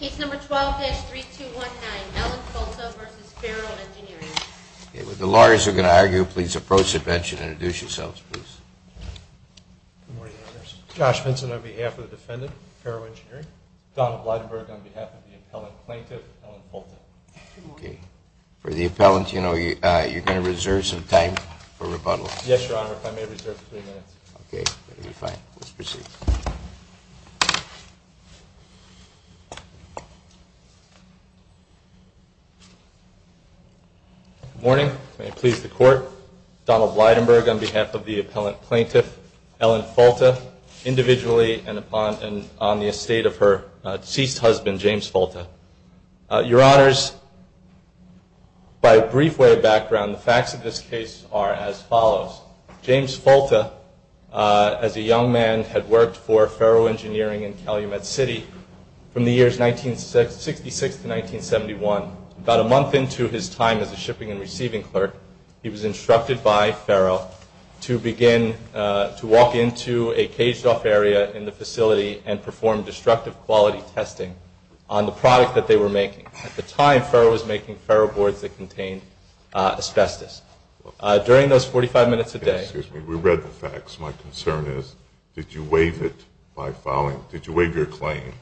With the lawyers who are going to argue, please approach the bench and introduce yourselves, please. Josh Vinson on behalf of the defendant, Ferro Engineering. Donald Leidenberg on behalf of the appellant plaintiff, Ellen Polta. For the appellant, you know, you're going to reserve some time for rebuttal. Yes, Your Honor, if I may reserve three minutes. Okay, fine. Let's proceed. Good morning. May it please the Court. Donald Leidenberg on behalf of the appellant plaintiff, Ellen Polta, individually and on the estate of her deceased husband, James Folta. Your Honors, by a brief way of background, the facts of this case are as follows. James Folta, as a young man, had worked for Ferro Engineering in Calumet City from the years 1966 to 1971. About a month into his time as a shipping and receiving clerk, he was instructed by Ferro to begin to walk into a caged-off area in the facility and perform destructive quality testing on the product that they were making. At the time, Ferro was making Ferro boards that contained asbestos. During those 45 minutes a day. Excuse me, we read the facts. My concern is, did you waive it by filing, did you waive your claim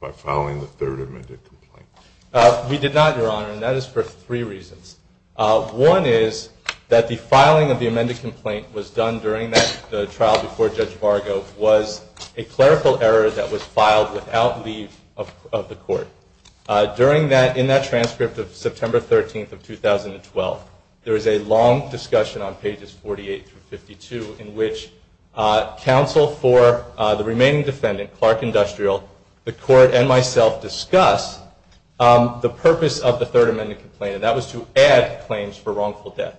by filing the third amended complaint? We did not, Your Honor, and that is for three reasons. One is that the filing of the amended complaint was done during the trial before Judge Vargo was a clerical error that was filed without leave of the Court. During that, in that transcript of September 13th of 2012, there is a long discussion on pages 48 through 52 in which counsel for the remaining defendant, Clark Industrial, the Court, and myself discuss the purpose of the third amended complaint, and that was to add claims for wrongful death.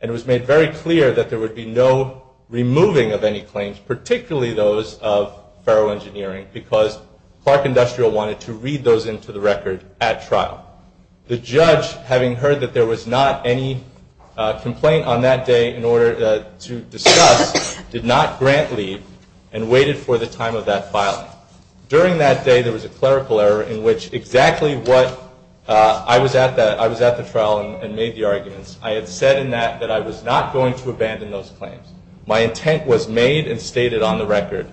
And it was made very clear that there would be no removing of any claims, particularly those of Ferro Engineering, because Clark Industrial wanted to read those into the record at trial. The judge, having heard that there was not any complaint on that day in order to discuss, did not grant leave and waited for the time of that filing. During that day, there was a clerical error in which exactly what I was at the trial and made the arguments. I had said in that that I was not going to abandon those claims. My intent was made and stated on the record,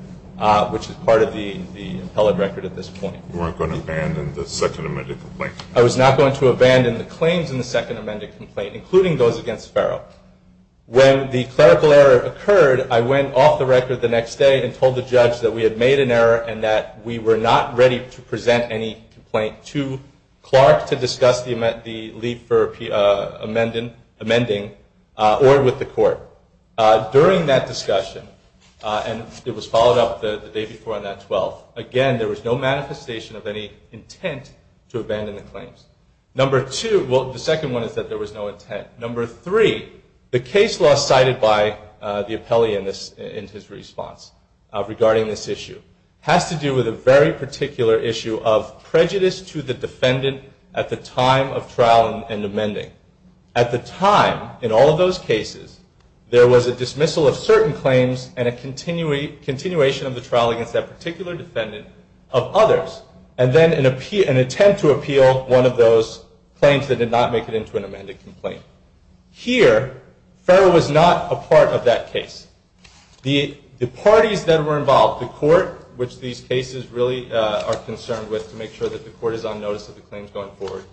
which is part of the appellate record at this point. You weren't going to abandon the second amended complaint? I was not going to abandon the claims in the second amended complaint, including those against Ferro. When the clerical error occurred, I went off the record the next day and told the judge that we had made an error and that we were not ready to present any complaint to Clark During that discussion, and it was followed up the day before on that 12th, again, there was no manifestation of any intent to abandon the claims. The second one is that there was no intent. Number three, the case law cited by the appellee in his response regarding this issue has to do with a very particular issue of prejudice to the defendant at the time of trial and amending. At the time, in all of those cases, there was a dismissal of certain claims and a continuation of the trial against that particular defendant of others and then an attempt to appeal one of those claims that did not make it into an amended complaint. Here, Ferro was not a part of that case. The parties that were involved, the court, which these cases really are concerned with to make sure that the court is on notice of the claims going forward,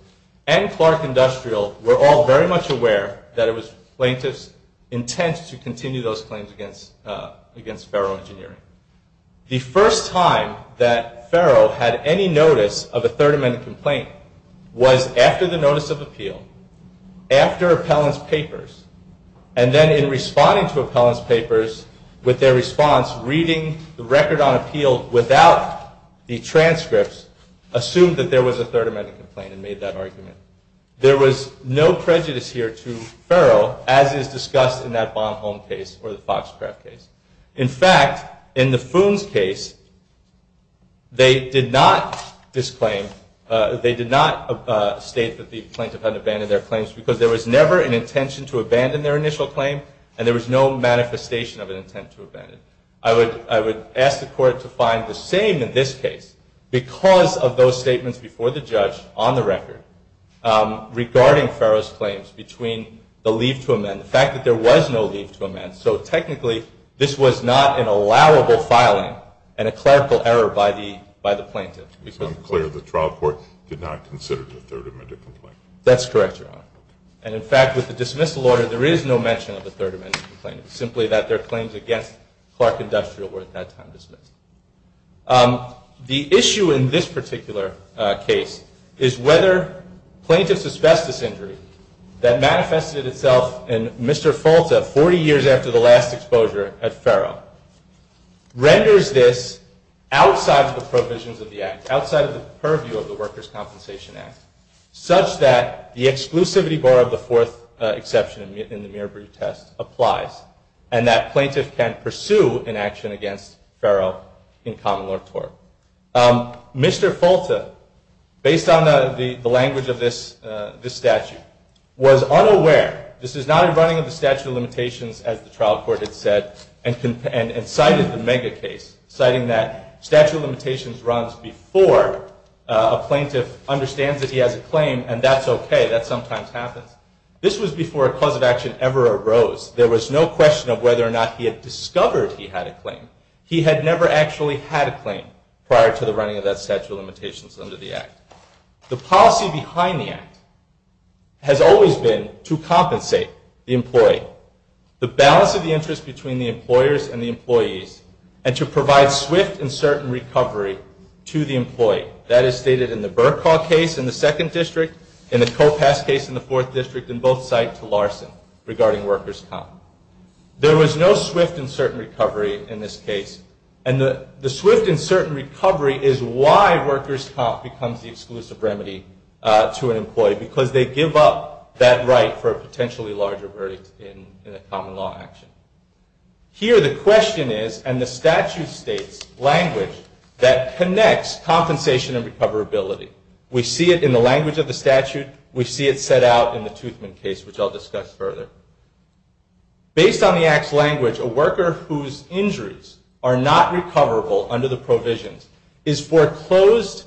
and Clark Industrial were all very much aware that it was plaintiffs' intent to continue those claims against Ferro Engineering. The first time that Ferro had any notice of a Third Amendment complaint was after the notice of appeal, after appellant's papers, and then in responding to appellant's papers with their response, reading the record on appeal without the transcripts, they assumed that there was a Third Amendment complaint and made that argument. There was no prejudice here to Ferro, as is discussed in that Baum-Holm case or the Foxcraft case. In fact, in the Foon's case, they did not state that the plaintiff had abandoned their claims because there was never an intention to abandon their initial claim and there was no manifestation of an intent to abandon. I would ask the court to find the same in this case because of those statements before the judge on the record regarding Ferro's claims between the leave to amend, the fact that there was no leave to amend, so technically this was not an allowable filing and a clerical error by the plaintiff. It's unclear that the trial court did not consider it a Third Amendment complaint. That's correct, Your Honor. And in fact, with the dismissal order, there is no mention of a Third Amendment complaint. It's simply that their claims against Clark Industrial were at that time dismissed. The issue in this particular case is whether plaintiff's asbestos injury that manifested itself in Mr. Folta 40 years after the last exposure at Ferro renders this outside of the provisions of the Act, outside of the purview of the Workers' Compensation Act, such that the exclusivity bar of the fourth exception in the Mirabru test applies and that plaintiff can pursue an action against Ferro in common law tort. Mr. Folta, based on the language of this statute, was unaware, this is not in running of the statute of limitations as the trial court had said, and cited the Mega case, citing that statute of limitations runs before a plaintiff understands that he has a claim and that's okay, that sometimes happens. This was before a cause of action ever arose. There was no question of whether or not he had discovered he had a claim. He had never actually had a claim prior to the running of that statute of limitations under the Act. The policy behind the Act has always been to compensate the employee, the balance of the interest between the employers and the employees, and to provide swift and certain recovery to the employee. That is stated in the Burkaw case in the second district, in the Kopass case in the fourth district, and both cite to Larson regarding workers' comp. There was no swift and certain recovery in this case, and the swift and certain recovery is why workers' comp becomes the exclusive remedy to an employee, because they give up that right for a potentially larger verdict in a common law action. Here the question is, and the statute states language that connects compensation and recoverability. We see it in the language of the statute. We see it set out in the Toothman case, which I'll discuss further. Based on the Act's language, a worker whose injuries are not recoverable under the provisions is foreclosed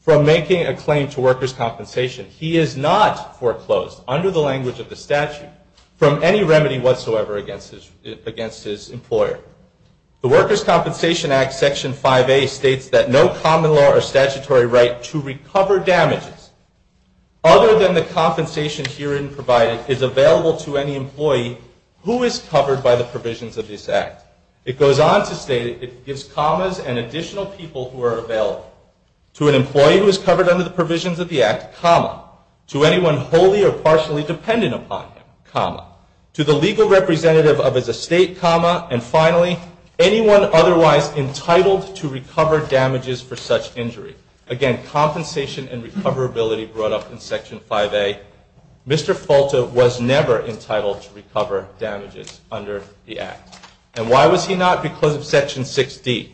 from making a claim to workers' compensation. He is not foreclosed, under the language of the statute, from any remedy whatsoever against his employer. The Workers' Compensation Act, Section 5A, states that no common law or statutory right to recover damages, other than the compensation herein provided, is available to any employee who is covered by the provisions of this Act. It goes on to state it gives commas and additional people who are available to an employee who is covered under the provisions of the Act, comma, to anyone wholly or partially dependent upon him, comma, to the legal representative of his estate, comma, and finally, anyone otherwise entitled to recover damages for such injury. Again, compensation and recoverability brought up in Section 5A. Mr. Falta was never entitled to recover damages under the Act. And why was he not? Not because of Section 6D,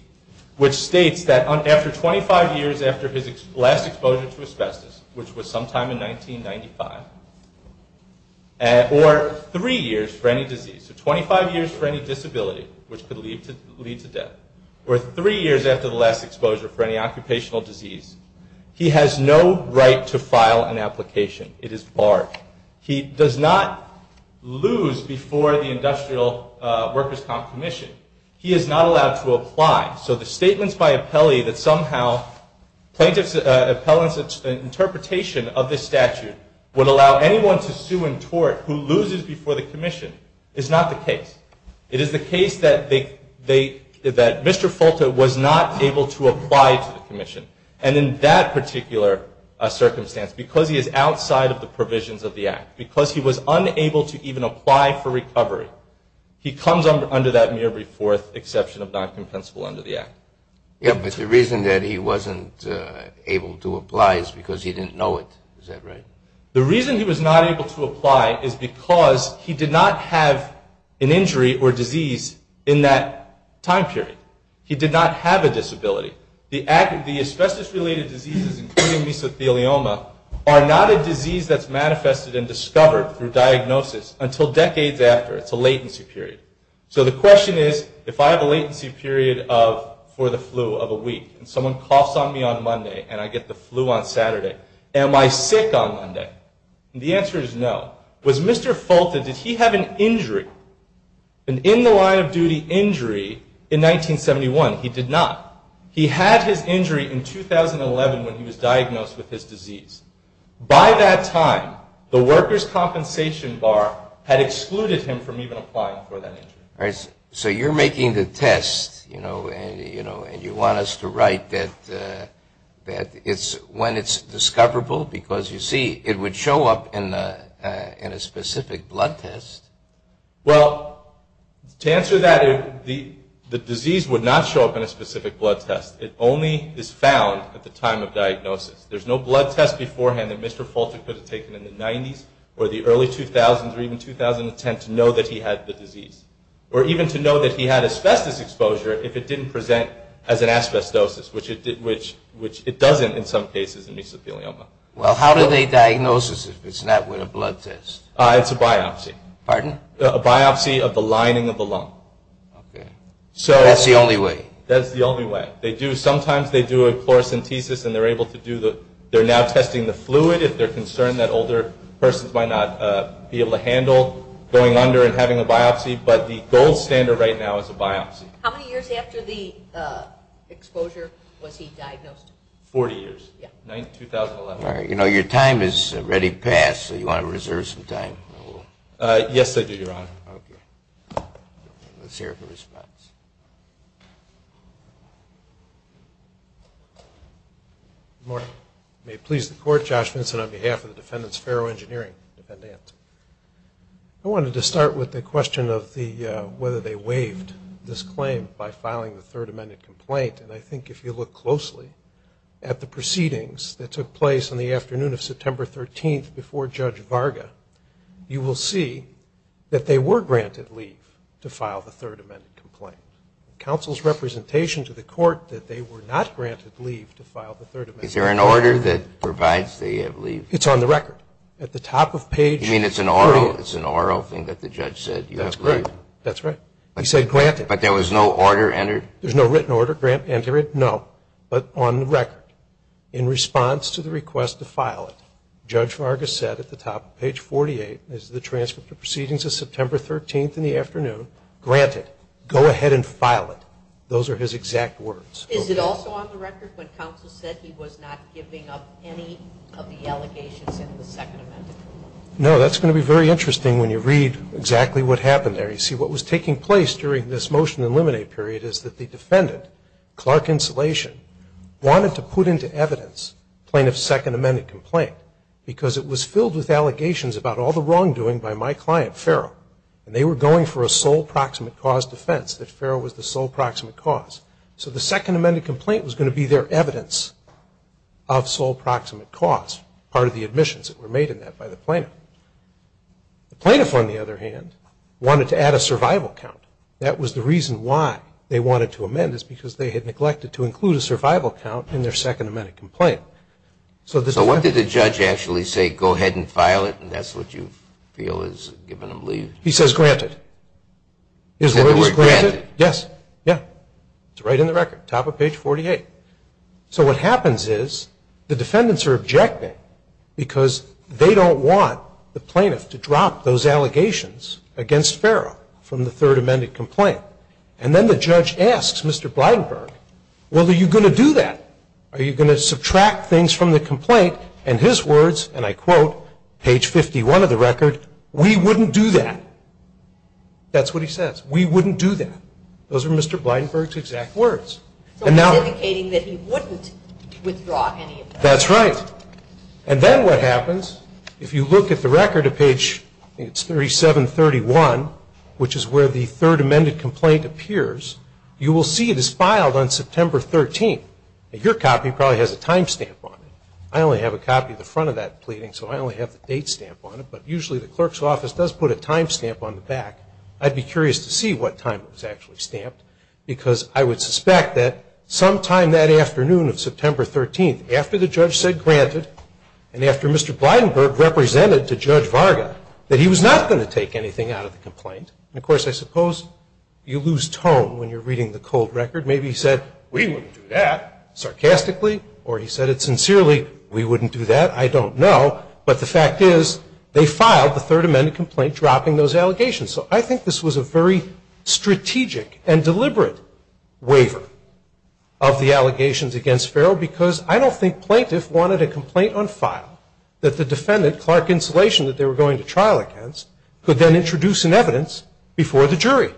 which states that after 25 years after his last exposure to asbestos, which was sometime in 1995, or three years for any disease, so 25 years for any disability which could lead to death, or three years after the last exposure for any occupational disease, he has no right to file an application. It is barred. He does not lose before the Industrial Workers' Comp Commission. He is not allowed to apply. So the statements by appellee that somehow plaintiffs' appellants' interpretation of this statute would allow anyone to sue and tort who loses before the Commission is not the case. It is the case that Mr. Falta was not able to apply to the Commission. And in that particular circumstance, because he is outside of the provisions of the Act, because he was unable to even apply for recovery, he comes under that mere re-forth exception of non-compensable under the Act. Yes, but the reason that he wasn't able to apply is because he didn't know it. Is that right? The reason he was not able to apply is because he did not have an injury or disease in that time period. He did not have a disability. The asbestos-related diseases, including mesothelioma, are not a disease that's manifested and discovered through diagnosis until decades after. It's a latency period. So the question is, if I have a latency period for the flu of a week and someone coughs on me on Monday and I get the flu on Saturday, am I sick on Monday? And the answer is no. Was Mr. Falta, did he have an injury, an in-the-line-of-duty injury in 1971? He did not. He had his injury in 2011 when he was diagnosed with his disease. By that time, the worker's compensation bar had excluded him from even applying for that injury. All right. So you're making the test, you know, and you want us to write that it's when it's discoverable because, you see, it would show up in a specific blood test. Well, to answer that, the disease would not show up in a specific blood test. It only is found at the time of diagnosis. There's no blood test beforehand that Mr. Falta could have taken in the 90s or the early 2000s or even 2010 to know that he had the disease, or even to know that he had asbestos exposure if it didn't present as an asbestosis, which it doesn't in some cases in mesothelioma. Well, how do they diagnose it if it's not with a blood test? It's a biopsy. Pardon? A biopsy of the lining of the lung. Okay. That's the only way? That's the only way. Sometimes they do a chlorosynthesis, and they're now testing the fluid if they're concerned that older persons might not be able to handle going under and having a biopsy. But the gold standard right now is a biopsy. How many years after the exposure was he diagnosed? Forty years. Yeah. 2011. All right. You know, your time has already passed, so you want to reserve some time? Yes, I do, Your Honor. Okay. Let's hear the response. Good morning. May it please the Court, Josh Vinson on behalf of the Defendant's Ferro Engineering Defendant. I wanted to start with the question of whether they waived this claim by filing the Third Amendment complaint. And I think if you look closely at the proceedings that took place on the afternoon of September 13th before Judge Varga, you will see that they were granted leave to file the Third Amendment complaint. Counsel's representation to the Court that they were not granted leave to file the Third Amendment complaint. Is there an order that provides they have leave? It's on the record. At the top of page 3. You mean it's an oral thing that the judge said you have to leave? That's correct. That's right. He said granted. But there was no order entered? There's no written order. Enter it? No. But on the record, in response to the request to file it, Judge Varga said at the top of page 48, as the transcript of proceedings of September 13th in the afternoon, granted. Go ahead and file it. Those are his exact words. Is it also on the record when counsel said he was not giving up any of the allegations in the Second Amendment? No. That's going to be very interesting when you read exactly what happened there. You see, what was taking place during this motion to eliminate period is that the defendant, Clark Insolation, wanted to put into evidence plaintiff's Second Amendment complaint because it was filled with allegations about all the wrongdoing by my client, Farrell. And they were going for a sole proximate cause defense, that Farrell was the sole proximate cause. So the Second Amendment complaint was going to be their evidence of sole proximate cause, part of the admissions that were made in that by the plaintiff. The plaintiff, on the other hand, wanted to add a survival count. That was the reason why they wanted to amend it, because they had neglected to include a survival count in their Second Amendment complaint. So what did the judge actually say? Go ahead and file it, and that's what you feel is giving them leave? He says granted. Is the word granted? Yes. Yeah. It's right in the record, top of page 48. So what happens is the defendants are objecting because they don't want the plaintiff to drop those allegations against Farrell from the Third Amendment complaint. And then the judge asks Mr. Blydenberg, well, are you going to do that? Are you going to subtract things from the complaint? And his words, and I quote, page 51 of the record, we wouldn't do that. That's what he says. We wouldn't do that. Those are Mr. Blydenberg's exact words. So he's indicating that he wouldn't withdraw any of that. That's right. And then what happens, if you look at the record at page 3731, which is where the Third Amendment complaint appears, you will see it is filed on September 13th. And your copy probably has a time stamp on it. I only have a copy of the front of that pleading, so I only have the date stamp on it. But usually the clerk's office does put a time stamp on the back. I'd be curious to see what time it was actually stamped, because I would suspect that sometime that afternoon of September 13th, after the judge said granted, and after Mr. Blydenberg represented to Judge Varga, that he was not going to take anything out of the complaint. And, of course, I suppose you lose tone when you're reading the cold record. Maybe he said, we wouldn't do that, sarcastically. Or he said it sincerely, we wouldn't do that, I don't know. But the fact is, they filed the Third Amendment complaint dropping those allegations. So I think this was a very strategic and deliberate waiver of the allegations against Farrell, because I don't think plaintiff wanted a complaint on file that the defendant, Clark Insulation, that they were going to trial against, could then introduce in evidence before the jury.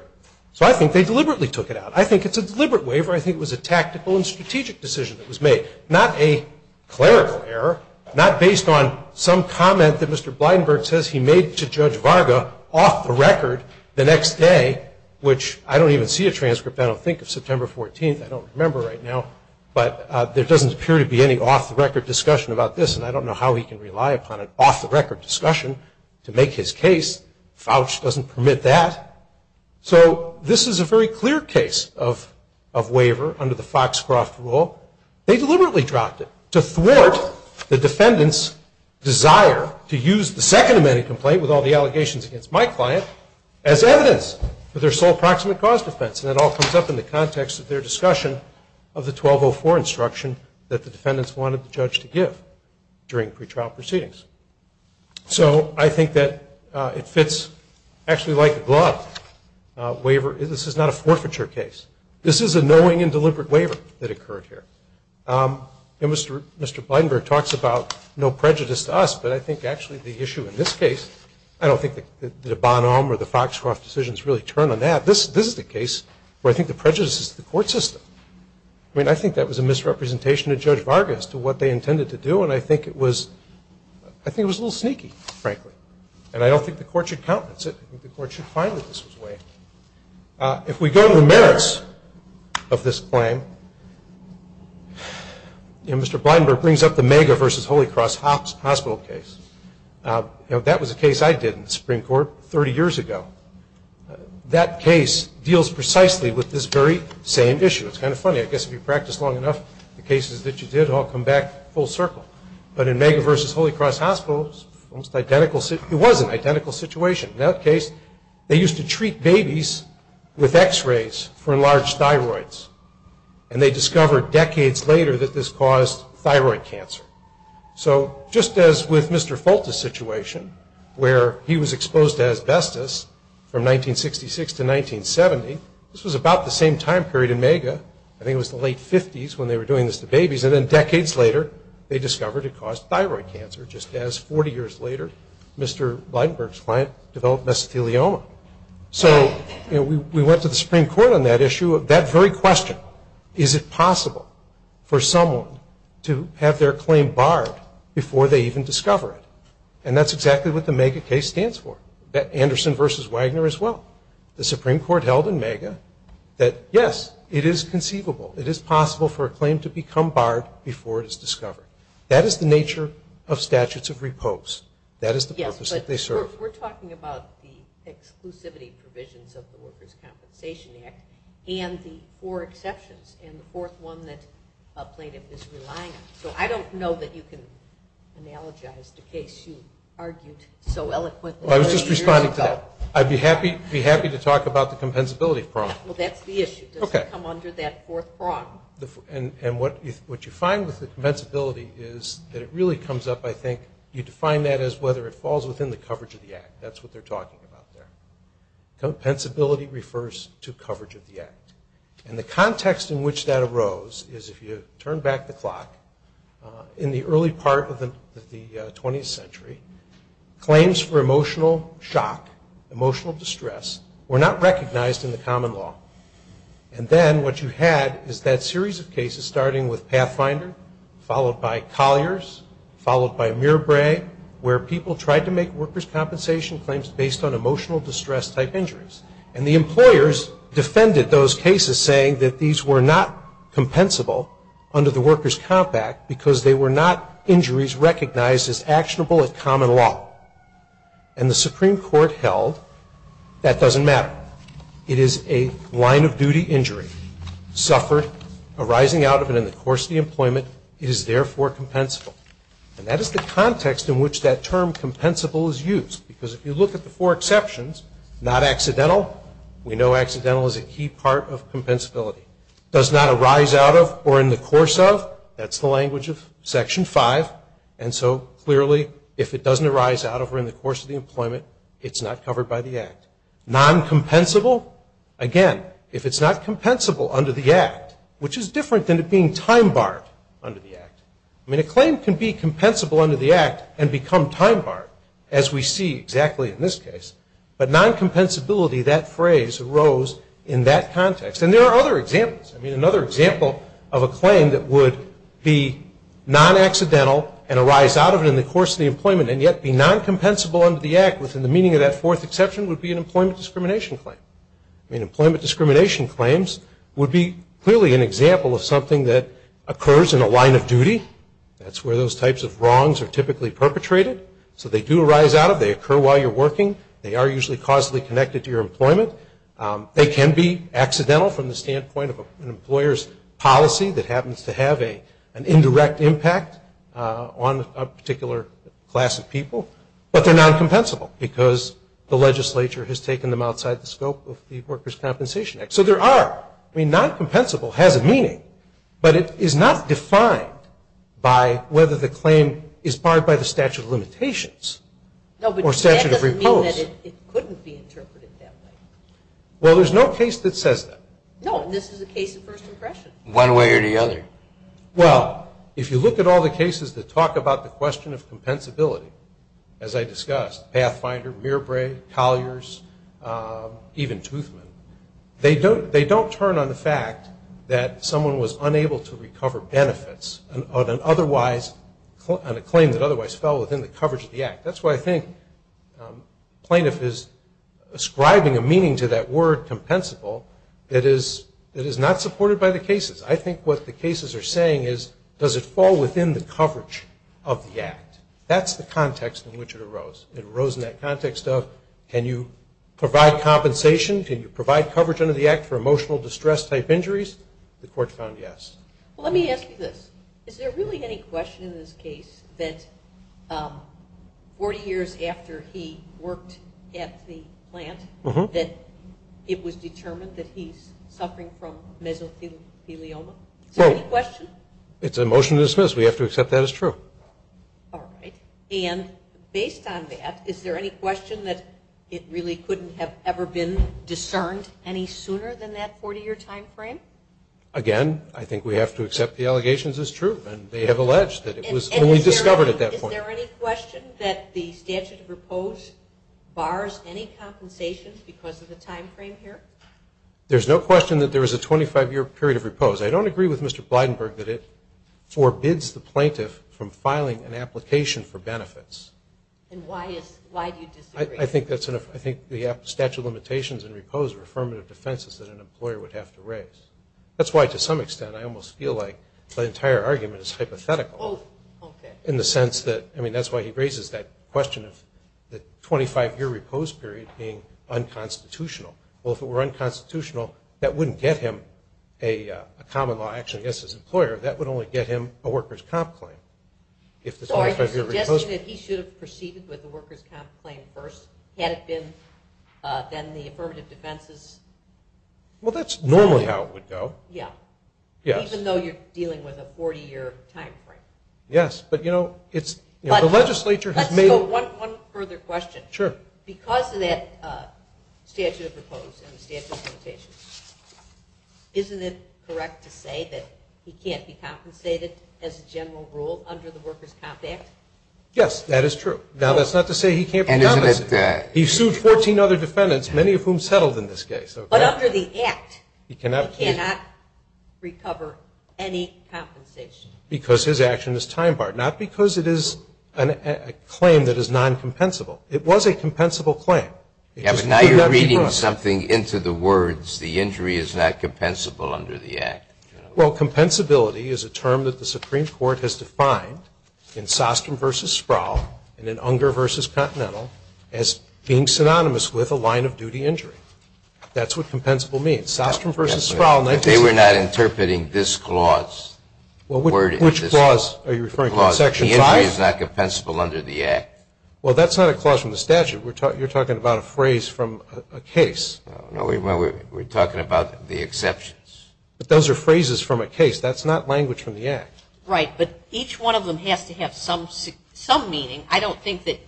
So I think they deliberately took it out. I think it's a deliberate waiver. I think it was a tactical and strategic decision that was made, not a clerical error, not based on some comment that Mr. Blydenberg says he made to Judge Varga off the record the next day, which I don't even see a transcript. I don't think of September 14th. I don't remember right now. But there doesn't appear to be any off-the-record discussion about this, and I don't know how he can rely upon an off-the-record discussion to make his case. Fauch doesn't permit that. So this is a very clear case of waiver under the Foxcroft rule. They deliberately dropped it to thwart the defendant's desire to use the Second Delegations against my client as evidence for their sole proximate cause defense. And it all comes up in the context of their discussion of the 1204 instruction that the defendants wanted the judge to give during pretrial proceedings. So I think that it fits actually like a glove. This is not a forfeiture case. This is a knowing and deliberate waiver that occurred here. And Mr. Blydenberg talks about no prejudice to us, but I think actually the issue in this case, I don't think the Bonhomme or the Foxcroft decisions really turn on that. This is the case where I think the prejudice is the court system. I mean, I think that was a misrepresentation of Judge Varga as to what they intended to do, and I think it was a little sneaky, frankly. And I don't think the court should countenance it. I think the court should find that this was waived. If we go to the merits of this claim, Mr. Blydenberg brings up the Mega versus Holy Cross Hospital case. That was a case I did in the Supreme Court 30 years ago. That case deals precisely with this very same issue. It's kind of funny. I guess if you practice long enough, the cases that you did all come back full circle. But in Mega versus Holy Cross Hospital, it was an identical situation. In that case, they used to treat babies with x-rays for enlarged thyroids, and they discovered decades later that this caused thyroid cancer. So just as with Mr. Folt's situation, where he was exposed to asbestos from 1966 to 1970, this was about the same time period in Mega. I think it was the late 50s when they were doing this to babies, and then decades later they discovered it caused thyroid cancer, just as 40 years later Mr. Blydenberg's client developed mesothelioma. So we went to the Supreme Court on that issue of that very question. Is it possible for someone to have their claim barred before they even discover it? And that's exactly what the Mega case stands for. Anderson versus Wagner as well. The Supreme Court held in Mega that, yes, it is conceivable, it is possible for a claim to become barred before it is discovered. That is the nature of statutes of repose. That is the purpose that they serve. We're talking about the exclusivity provisions of the Workers' Compensation Act and the four exceptions and the fourth one that a plaintiff is relying on. So I don't know that you can analogize the case you argued so eloquently. I was just responding to that. I'd be happy to talk about the compensability problem. Well, that's the issue. Does it come under that fourth prong? What you find with the compensability is that it really comes up, I think, you define that as whether it falls within the coverage of the Act. That's what they're talking about there. Compensability refers to coverage of the Act. And the context in which that arose is if you turn back the clock, in the early part of the 20th century, claims for emotional shock, emotional distress, were not recognized in the common law. And then what you had is that series of cases starting with Pathfinder, followed by Collier's, followed by Mirabre, where people tried to make workers' compensation claims based on emotional distress-type injuries. And the employers defended those cases, saying that these were not compensable under the Workers' Comp Act because they were not injuries recognized as actionable in common law. And the Supreme Court held that doesn't matter. It is a line-of-duty injury, suffered, arising out of and in the course of the employment, it is therefore compensable. And that is the context in which that term, compensable, is used. Because if you look at the four exceptions, not accidental, we know accidental is a key part of compensability. Does not arise out of or in the course of, that's the language of Section 5. And so, clearly, if it doesn't arise out of or in the course of the employment, it's not covered by the Act. Non-compensable, again, if it's not compensable under the Act, which is different than it being time-barred under the Act. I mean, a claim can be compensable under the Act and become time-barred, as we see exactly in this case. But non-compensability, that phrase arose in that context. And there are other examples. I mean, another example of a claim that would be non-accidental and arise out of it in the course of the employment and yet be non-compensable under the Act, within the meaning of that fourth exception, would be an employment discrimination claim. I mean, employment discrimination claims would be clearly an example of something that occurs in a line of duty. That's where those types of wrongs are typically perpetrated. So they do arise out of. They occur while you're working. They are usually causally connected to your employment. They can be accidental from the standpoint of an employer's policy that happens to have an indirect impact on a particular class of people, but they're non-compensable because the legislature has taken them outside the scope of the Workers' Compensation Act. So there are. I mean, non-compensable has a meaning, but it is not defined by whether the claim is barred by the statute of limitations or statute of repose. No, but that doesn't mean that it couldn't be interpreted that way. Well, there's no case that says that. No, and this is a case of first impression. One way or the other. Well, if you look at all the cases that talk about the question of compensability, as I discussed, Pathfinder, Mirabre, Colliers, even Toothman, they don't turn on the fact that someone was unable to recover benefits on a claim that otherwise fell within the coverage of the act. That's why I think plaintiff is ascribing a meaning to that word, compensable, that is not supported by the cases. I think what the cases are saying is, does it fall within the coverage of the act? That's the context in which it arose. It arose in that context of can you provide compensation, can you provide coverage under the act for emotional distress-type injuries? The court found yes. Well, let me ask you this. Is there really any question in this case that 40 years after he worked at the plant that it was determined that he's suffering from mesothelioma? Is there any question? No. It's a motion to dismiss. We have to accept that as true. All right. And based on that, is there any question that it really couldn't have ever been discerned any sooner than that 40-year time frame? Again, I think we have to accept the allegations as true, and they have alleged that it was only discovered at that point. Is there any question that the statute of repose bars any compensation because of the time frame here? There's no question that there is a 25-year period of repose. I don't agree with Mr. Blydenberg that it forbids the plaintiff from filing an application for benefits. And why do you disagree? I think the statute of limitations and repose are affirmative defenses that an employer would have to raise. That's why, to some extent, I almost feel like the entire argument is hypothetical in the sense that that's why he raises that question of the 25-year repose period being unconstitutional. Well, if it were unconstitutional, that wouldn't get him a common law action against his employer. That would only get him a worker's comp claim. So are you suggesting that he should have proceeded with the worker's comp claim first had it been then the affirmative defenses? Well, that's normally how it would go. Yeah. Even though you're dealing with a 40-year time frame. Yes. Let's go one further question. Sure. Because of that statute of repose and the statute of limitations, isn't it correct to say that he can't be compensated as a general rule under the Worker's Comp Act? Yes, that is true. Now, that's not to say he can't be compensated. He sued 14 other defendants, many of whom settled in this case. But under the Act, he cannot recover any compensation. Because his action is time barred. Not because it is a claim that is non-compensable. It was a compensable claim. Yeah, but now you're reading something into the words, the injury is not compensable under the Act. Well, compensability is a term that the Supreme Court has defined in Sostrom v. Sproul and in Unger v. Continental as being synonymous with a line-of-duty injury. That's what compensable means. Sostrom v. Sproul. They were not interpreting this clause. Which clause are you referring to in Section 5? The injury is not compensable under the Act. Well, that's not a clause from the statute. You're talking about a phrase from a case. No, we're talking about the exceptions. But those are phrases from a case. That's not language from the Act. Right. But each one of them has to have some meaning. I don't think that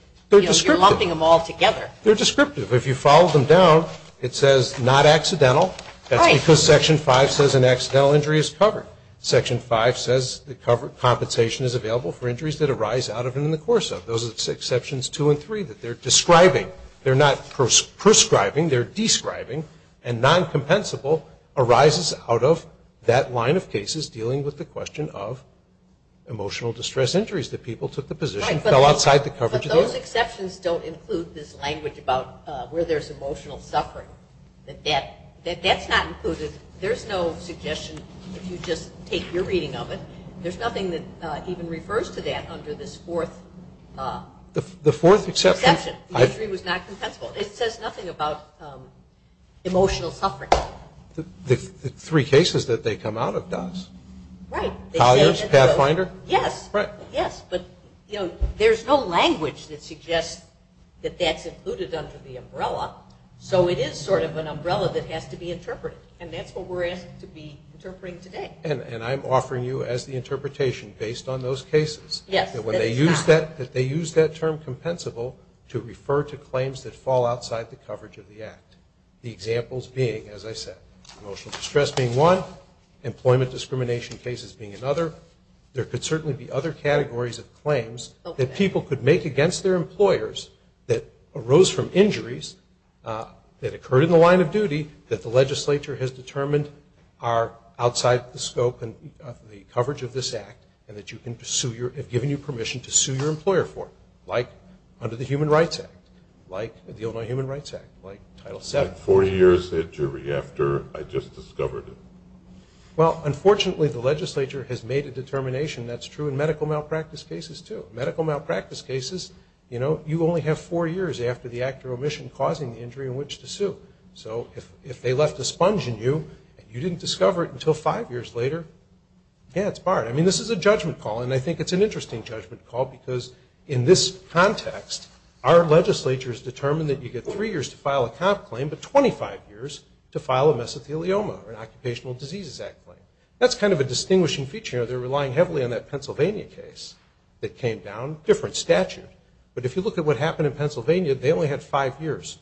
you're lumping them all together. They're descriptive. If you follow them down, it says not accidental. Right. Because Section 5 says an accidental injury is covered. Section 5 says compensation is available for injuries that arise out of and in the course of. Those are exceptions 2 and 3 that they're describing. They're not prescribing. They're describing. And noncompensable arises out of that line of cases dealing with the question of emotional distress injuries, that people took the position and fell outside the coverage of the injury. Right. But those exceptions don't include this language about where there's emotional suffering. That's not included. There's no suggestion if you just take your reading of it. There's nothing that even refers to that under this fourth exception. The injury was not compensable. It says nothing about emotional suffering. The three cases that they come out of does. Right. Colliers, Pathfinder. Yes. Right. Yes. But, you know, there's no language that suggests that that's included under the umbrella. So it is sort of an umbrella that has to be interpreted. And that's what we're asked to be interpreting today. And I'm offering you as the interpretation based on those cases. Yes. That when they use that term compensable to refer to claims that fall outside the coverage of the act. The examples being, as I said, emotional distress being one, employment discrimination cases being another. There could certainly be other categories of claims that people could make against their employers that arose from injuries that occurred in the line of duty that the legislature has determined are outside the scope and the coverage of this act. And that you can pursue your, have given you permission to sue your employer for it. Like under the Human Rights Act. Like the Illinois Human Rights Act. Like Title VII. Four years at jury after I just discovered it. Well, unfortunately, the legislature has made a determination. That's true in medical malpractice cases, too. Medical malpractice cases, you know, you only have four years after the act or omission causing the injury in which to sue. So if they left a sponge in you and you didn't discover it until five years later, yeah, it's barred. I mean, this is a judgment call. And I think it's an interesting judgment call because in this context, our legislature has determined that you get three years to file a comp claim, but 25 years to file a mesothelioma or an Occupational Diseases Act claim. That's kind of a distinguishing feature. You know, they're relying heavily on that Pennsylvania case that came down. Different statute. But if you look at what happened in Pennsylvania, they only had five years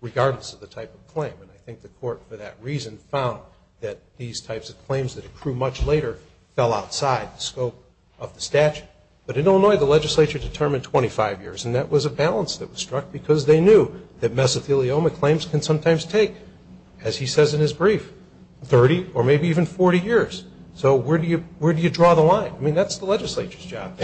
regardless of the type of claim. And I think the court, for that reason, found that these types of claims that accrue much later fell outside the scope of the statute. But in Illinois, the legislature determined 25 years. And that was a balance that was struck because they knew that mesothelioma claims can sometimes take, as he says in his brief, 30 or maybe even 40 years. So where do you draw the line? I mean, that's the legislature's job.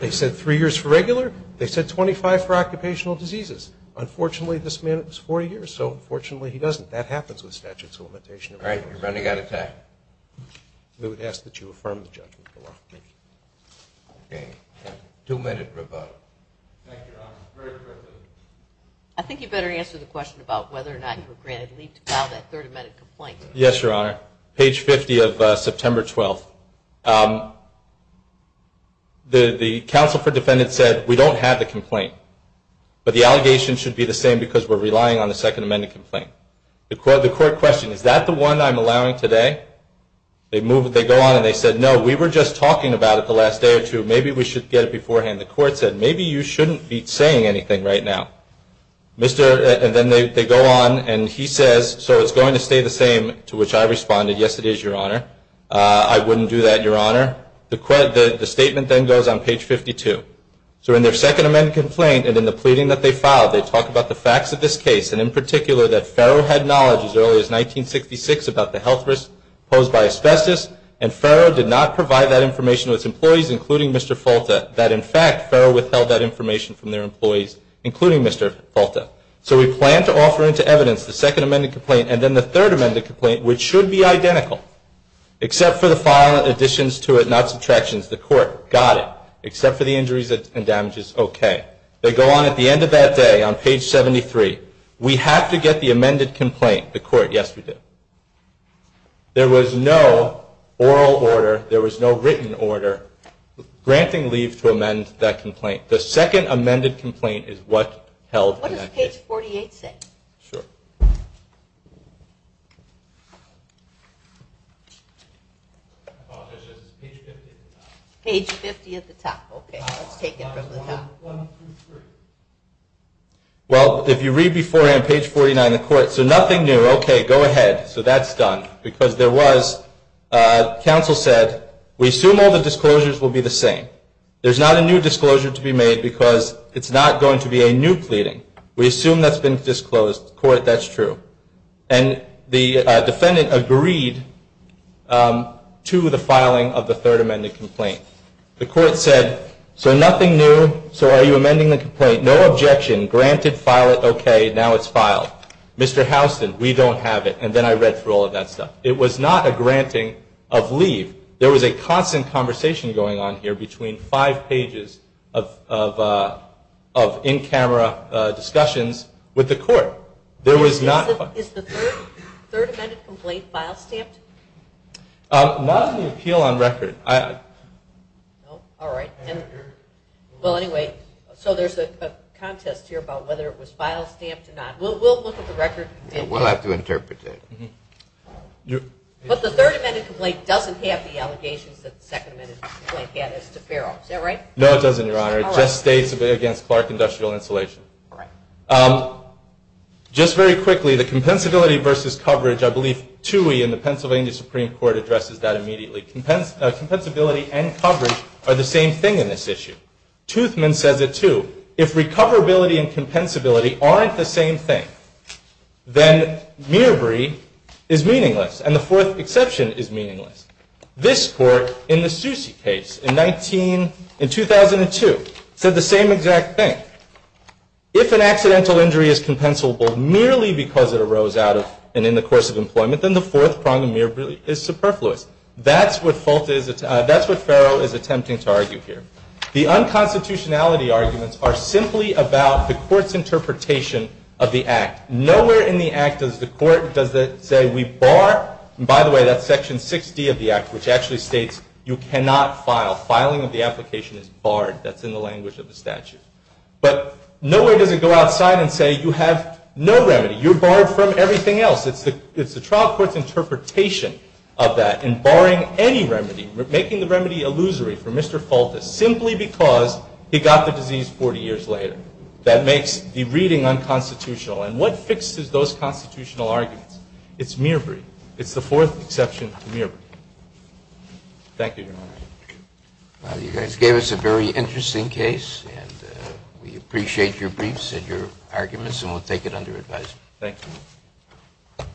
They said three years for regular. They said 25 for occupational diseases. Unfortunately, this man, it was 40 years. So, unfortunately, he doesn't. That happens with statutes of limitation in Illinois. All right. You're running out of time. We would ask that you affirm the judgment for law. Thank you. Okay. Two-minute rebuttal. Thank you, Your Honor. Very quickly. I think you better answer the question about whether or not you were granted leave to file that third amendment complaint. Yes, Your Honor. Page 50 of September 12th. The counsel for defendants said, we don't have the complaint. But the allegation should be the same because we're relying on the second amendment complaint. The court questioned, is that the one I'm allowing today? They go on and they said, no, we were just talking about it the last day or two. Maybe we should get it beforehand. The court said, maybe you shouldn't be saying anything right now. And then they go on and he says, so it's going to stay the same? To which I responded, yes, it is, Your Honor. I wouldn't do that, Your Honor. The statement then goes on page 52. So, in their second amendment complaint and in the pleading that they filed, they talk about the facts of this case and, in particular, that Ferro had knowledge as early as 1966 about the health risks posed by asbestos and Ferro did not provide that information to its employees, including Mr. Folta, that, in fact, Ferro withheld that information from their employees, including Mr. Folta. So, we plan to offer into evidence the second amendment complaint and then the third amendment complaint, which should be identical, except for the filing additions to it, not subtractions. The court, got it, except for the injuries and damages, okay. They go on at the end of that day on page 73. We have to get the amended complaint. The court, yes, we do. There was no oral order. There was no written order. Granting leave to amend that complaint. The second amended complaint is what held in that case. What does page 48 say? Sure. Page 50 at the top, okay. Let's take it from the top. Well, if you read beforehand, page 49 of the court. So, nothing new. Okay, go ahead. So, that's done. Because there was, council said, we assume all the disclosures will be the same. There's not a new disclosure to be made because it's not going to be a new pleading. We assume that's been disclosed. Court, that's true. And the defendant agreed to the filing of the third amended complaint. The court said, so nothing new. So, are you amending the complaint? No objection. Granted. File it. Okay. Now it's filed. Mr. Houston, we don't have it. And then I read through all of that stuff. It was not a granting of leave. There was a constant conversation going on here between five pages of in-camera discussions with the court. Is the third amended complaint file stamped? Not on the appeal on record. All right. Well, anyway, so there's a contest here about whether it was file stamped or not. We'll look at the record. We'll have to interpret that. But the third amended complaint doesn't have the allegations that the second amended complaint had as to Farrell. Is that right? No, it doesn't, Your Honor. It just states against Clark Industrial Insulation. All right. Just very quickly, the compensability versus coverage, I believe TUI in the Pennsylvania Supreme Court addresses that immediately. Compensability and coverage are the same thing in this issue. Toothman says it, too. If recoverability and compensability aren't the same thing, then Mirabri is meaningless. And the fourth exception is meaningless. This court, in the Soucy case in 2002, said the same exact thing. If an accidental injury is compensable merely because it arose out of and in the course of employment, then the fourth prong of Mirabri is superfluous. That's what Farrell is attempting to argue here. The unconstitutionality arguments are simply about the court's interpretation of the act. Nowhere in the act does the court say we bar. And by the way, that's section 6D of the act, which actually states you cannot file. Filing of the application is barred. That's in the language of the statute. But nowhere does it go outside and say you have no remedy. You're barred from everything else. It's the trial court's interpretation of that. And barring any remedy, making the remedy illusory for Mr. Fultus simply because he got the disease 40 years later. That makes the reading unconstitutional. And what fixes those constitutional arguments? It's Mirabri. It's the fourth exception to Mirabri. Thank you, Your Honor. Well, you guys gave us a very interesting case, and we appreciate your briefs and your arguments, and we'll take it under advisement. Thank you.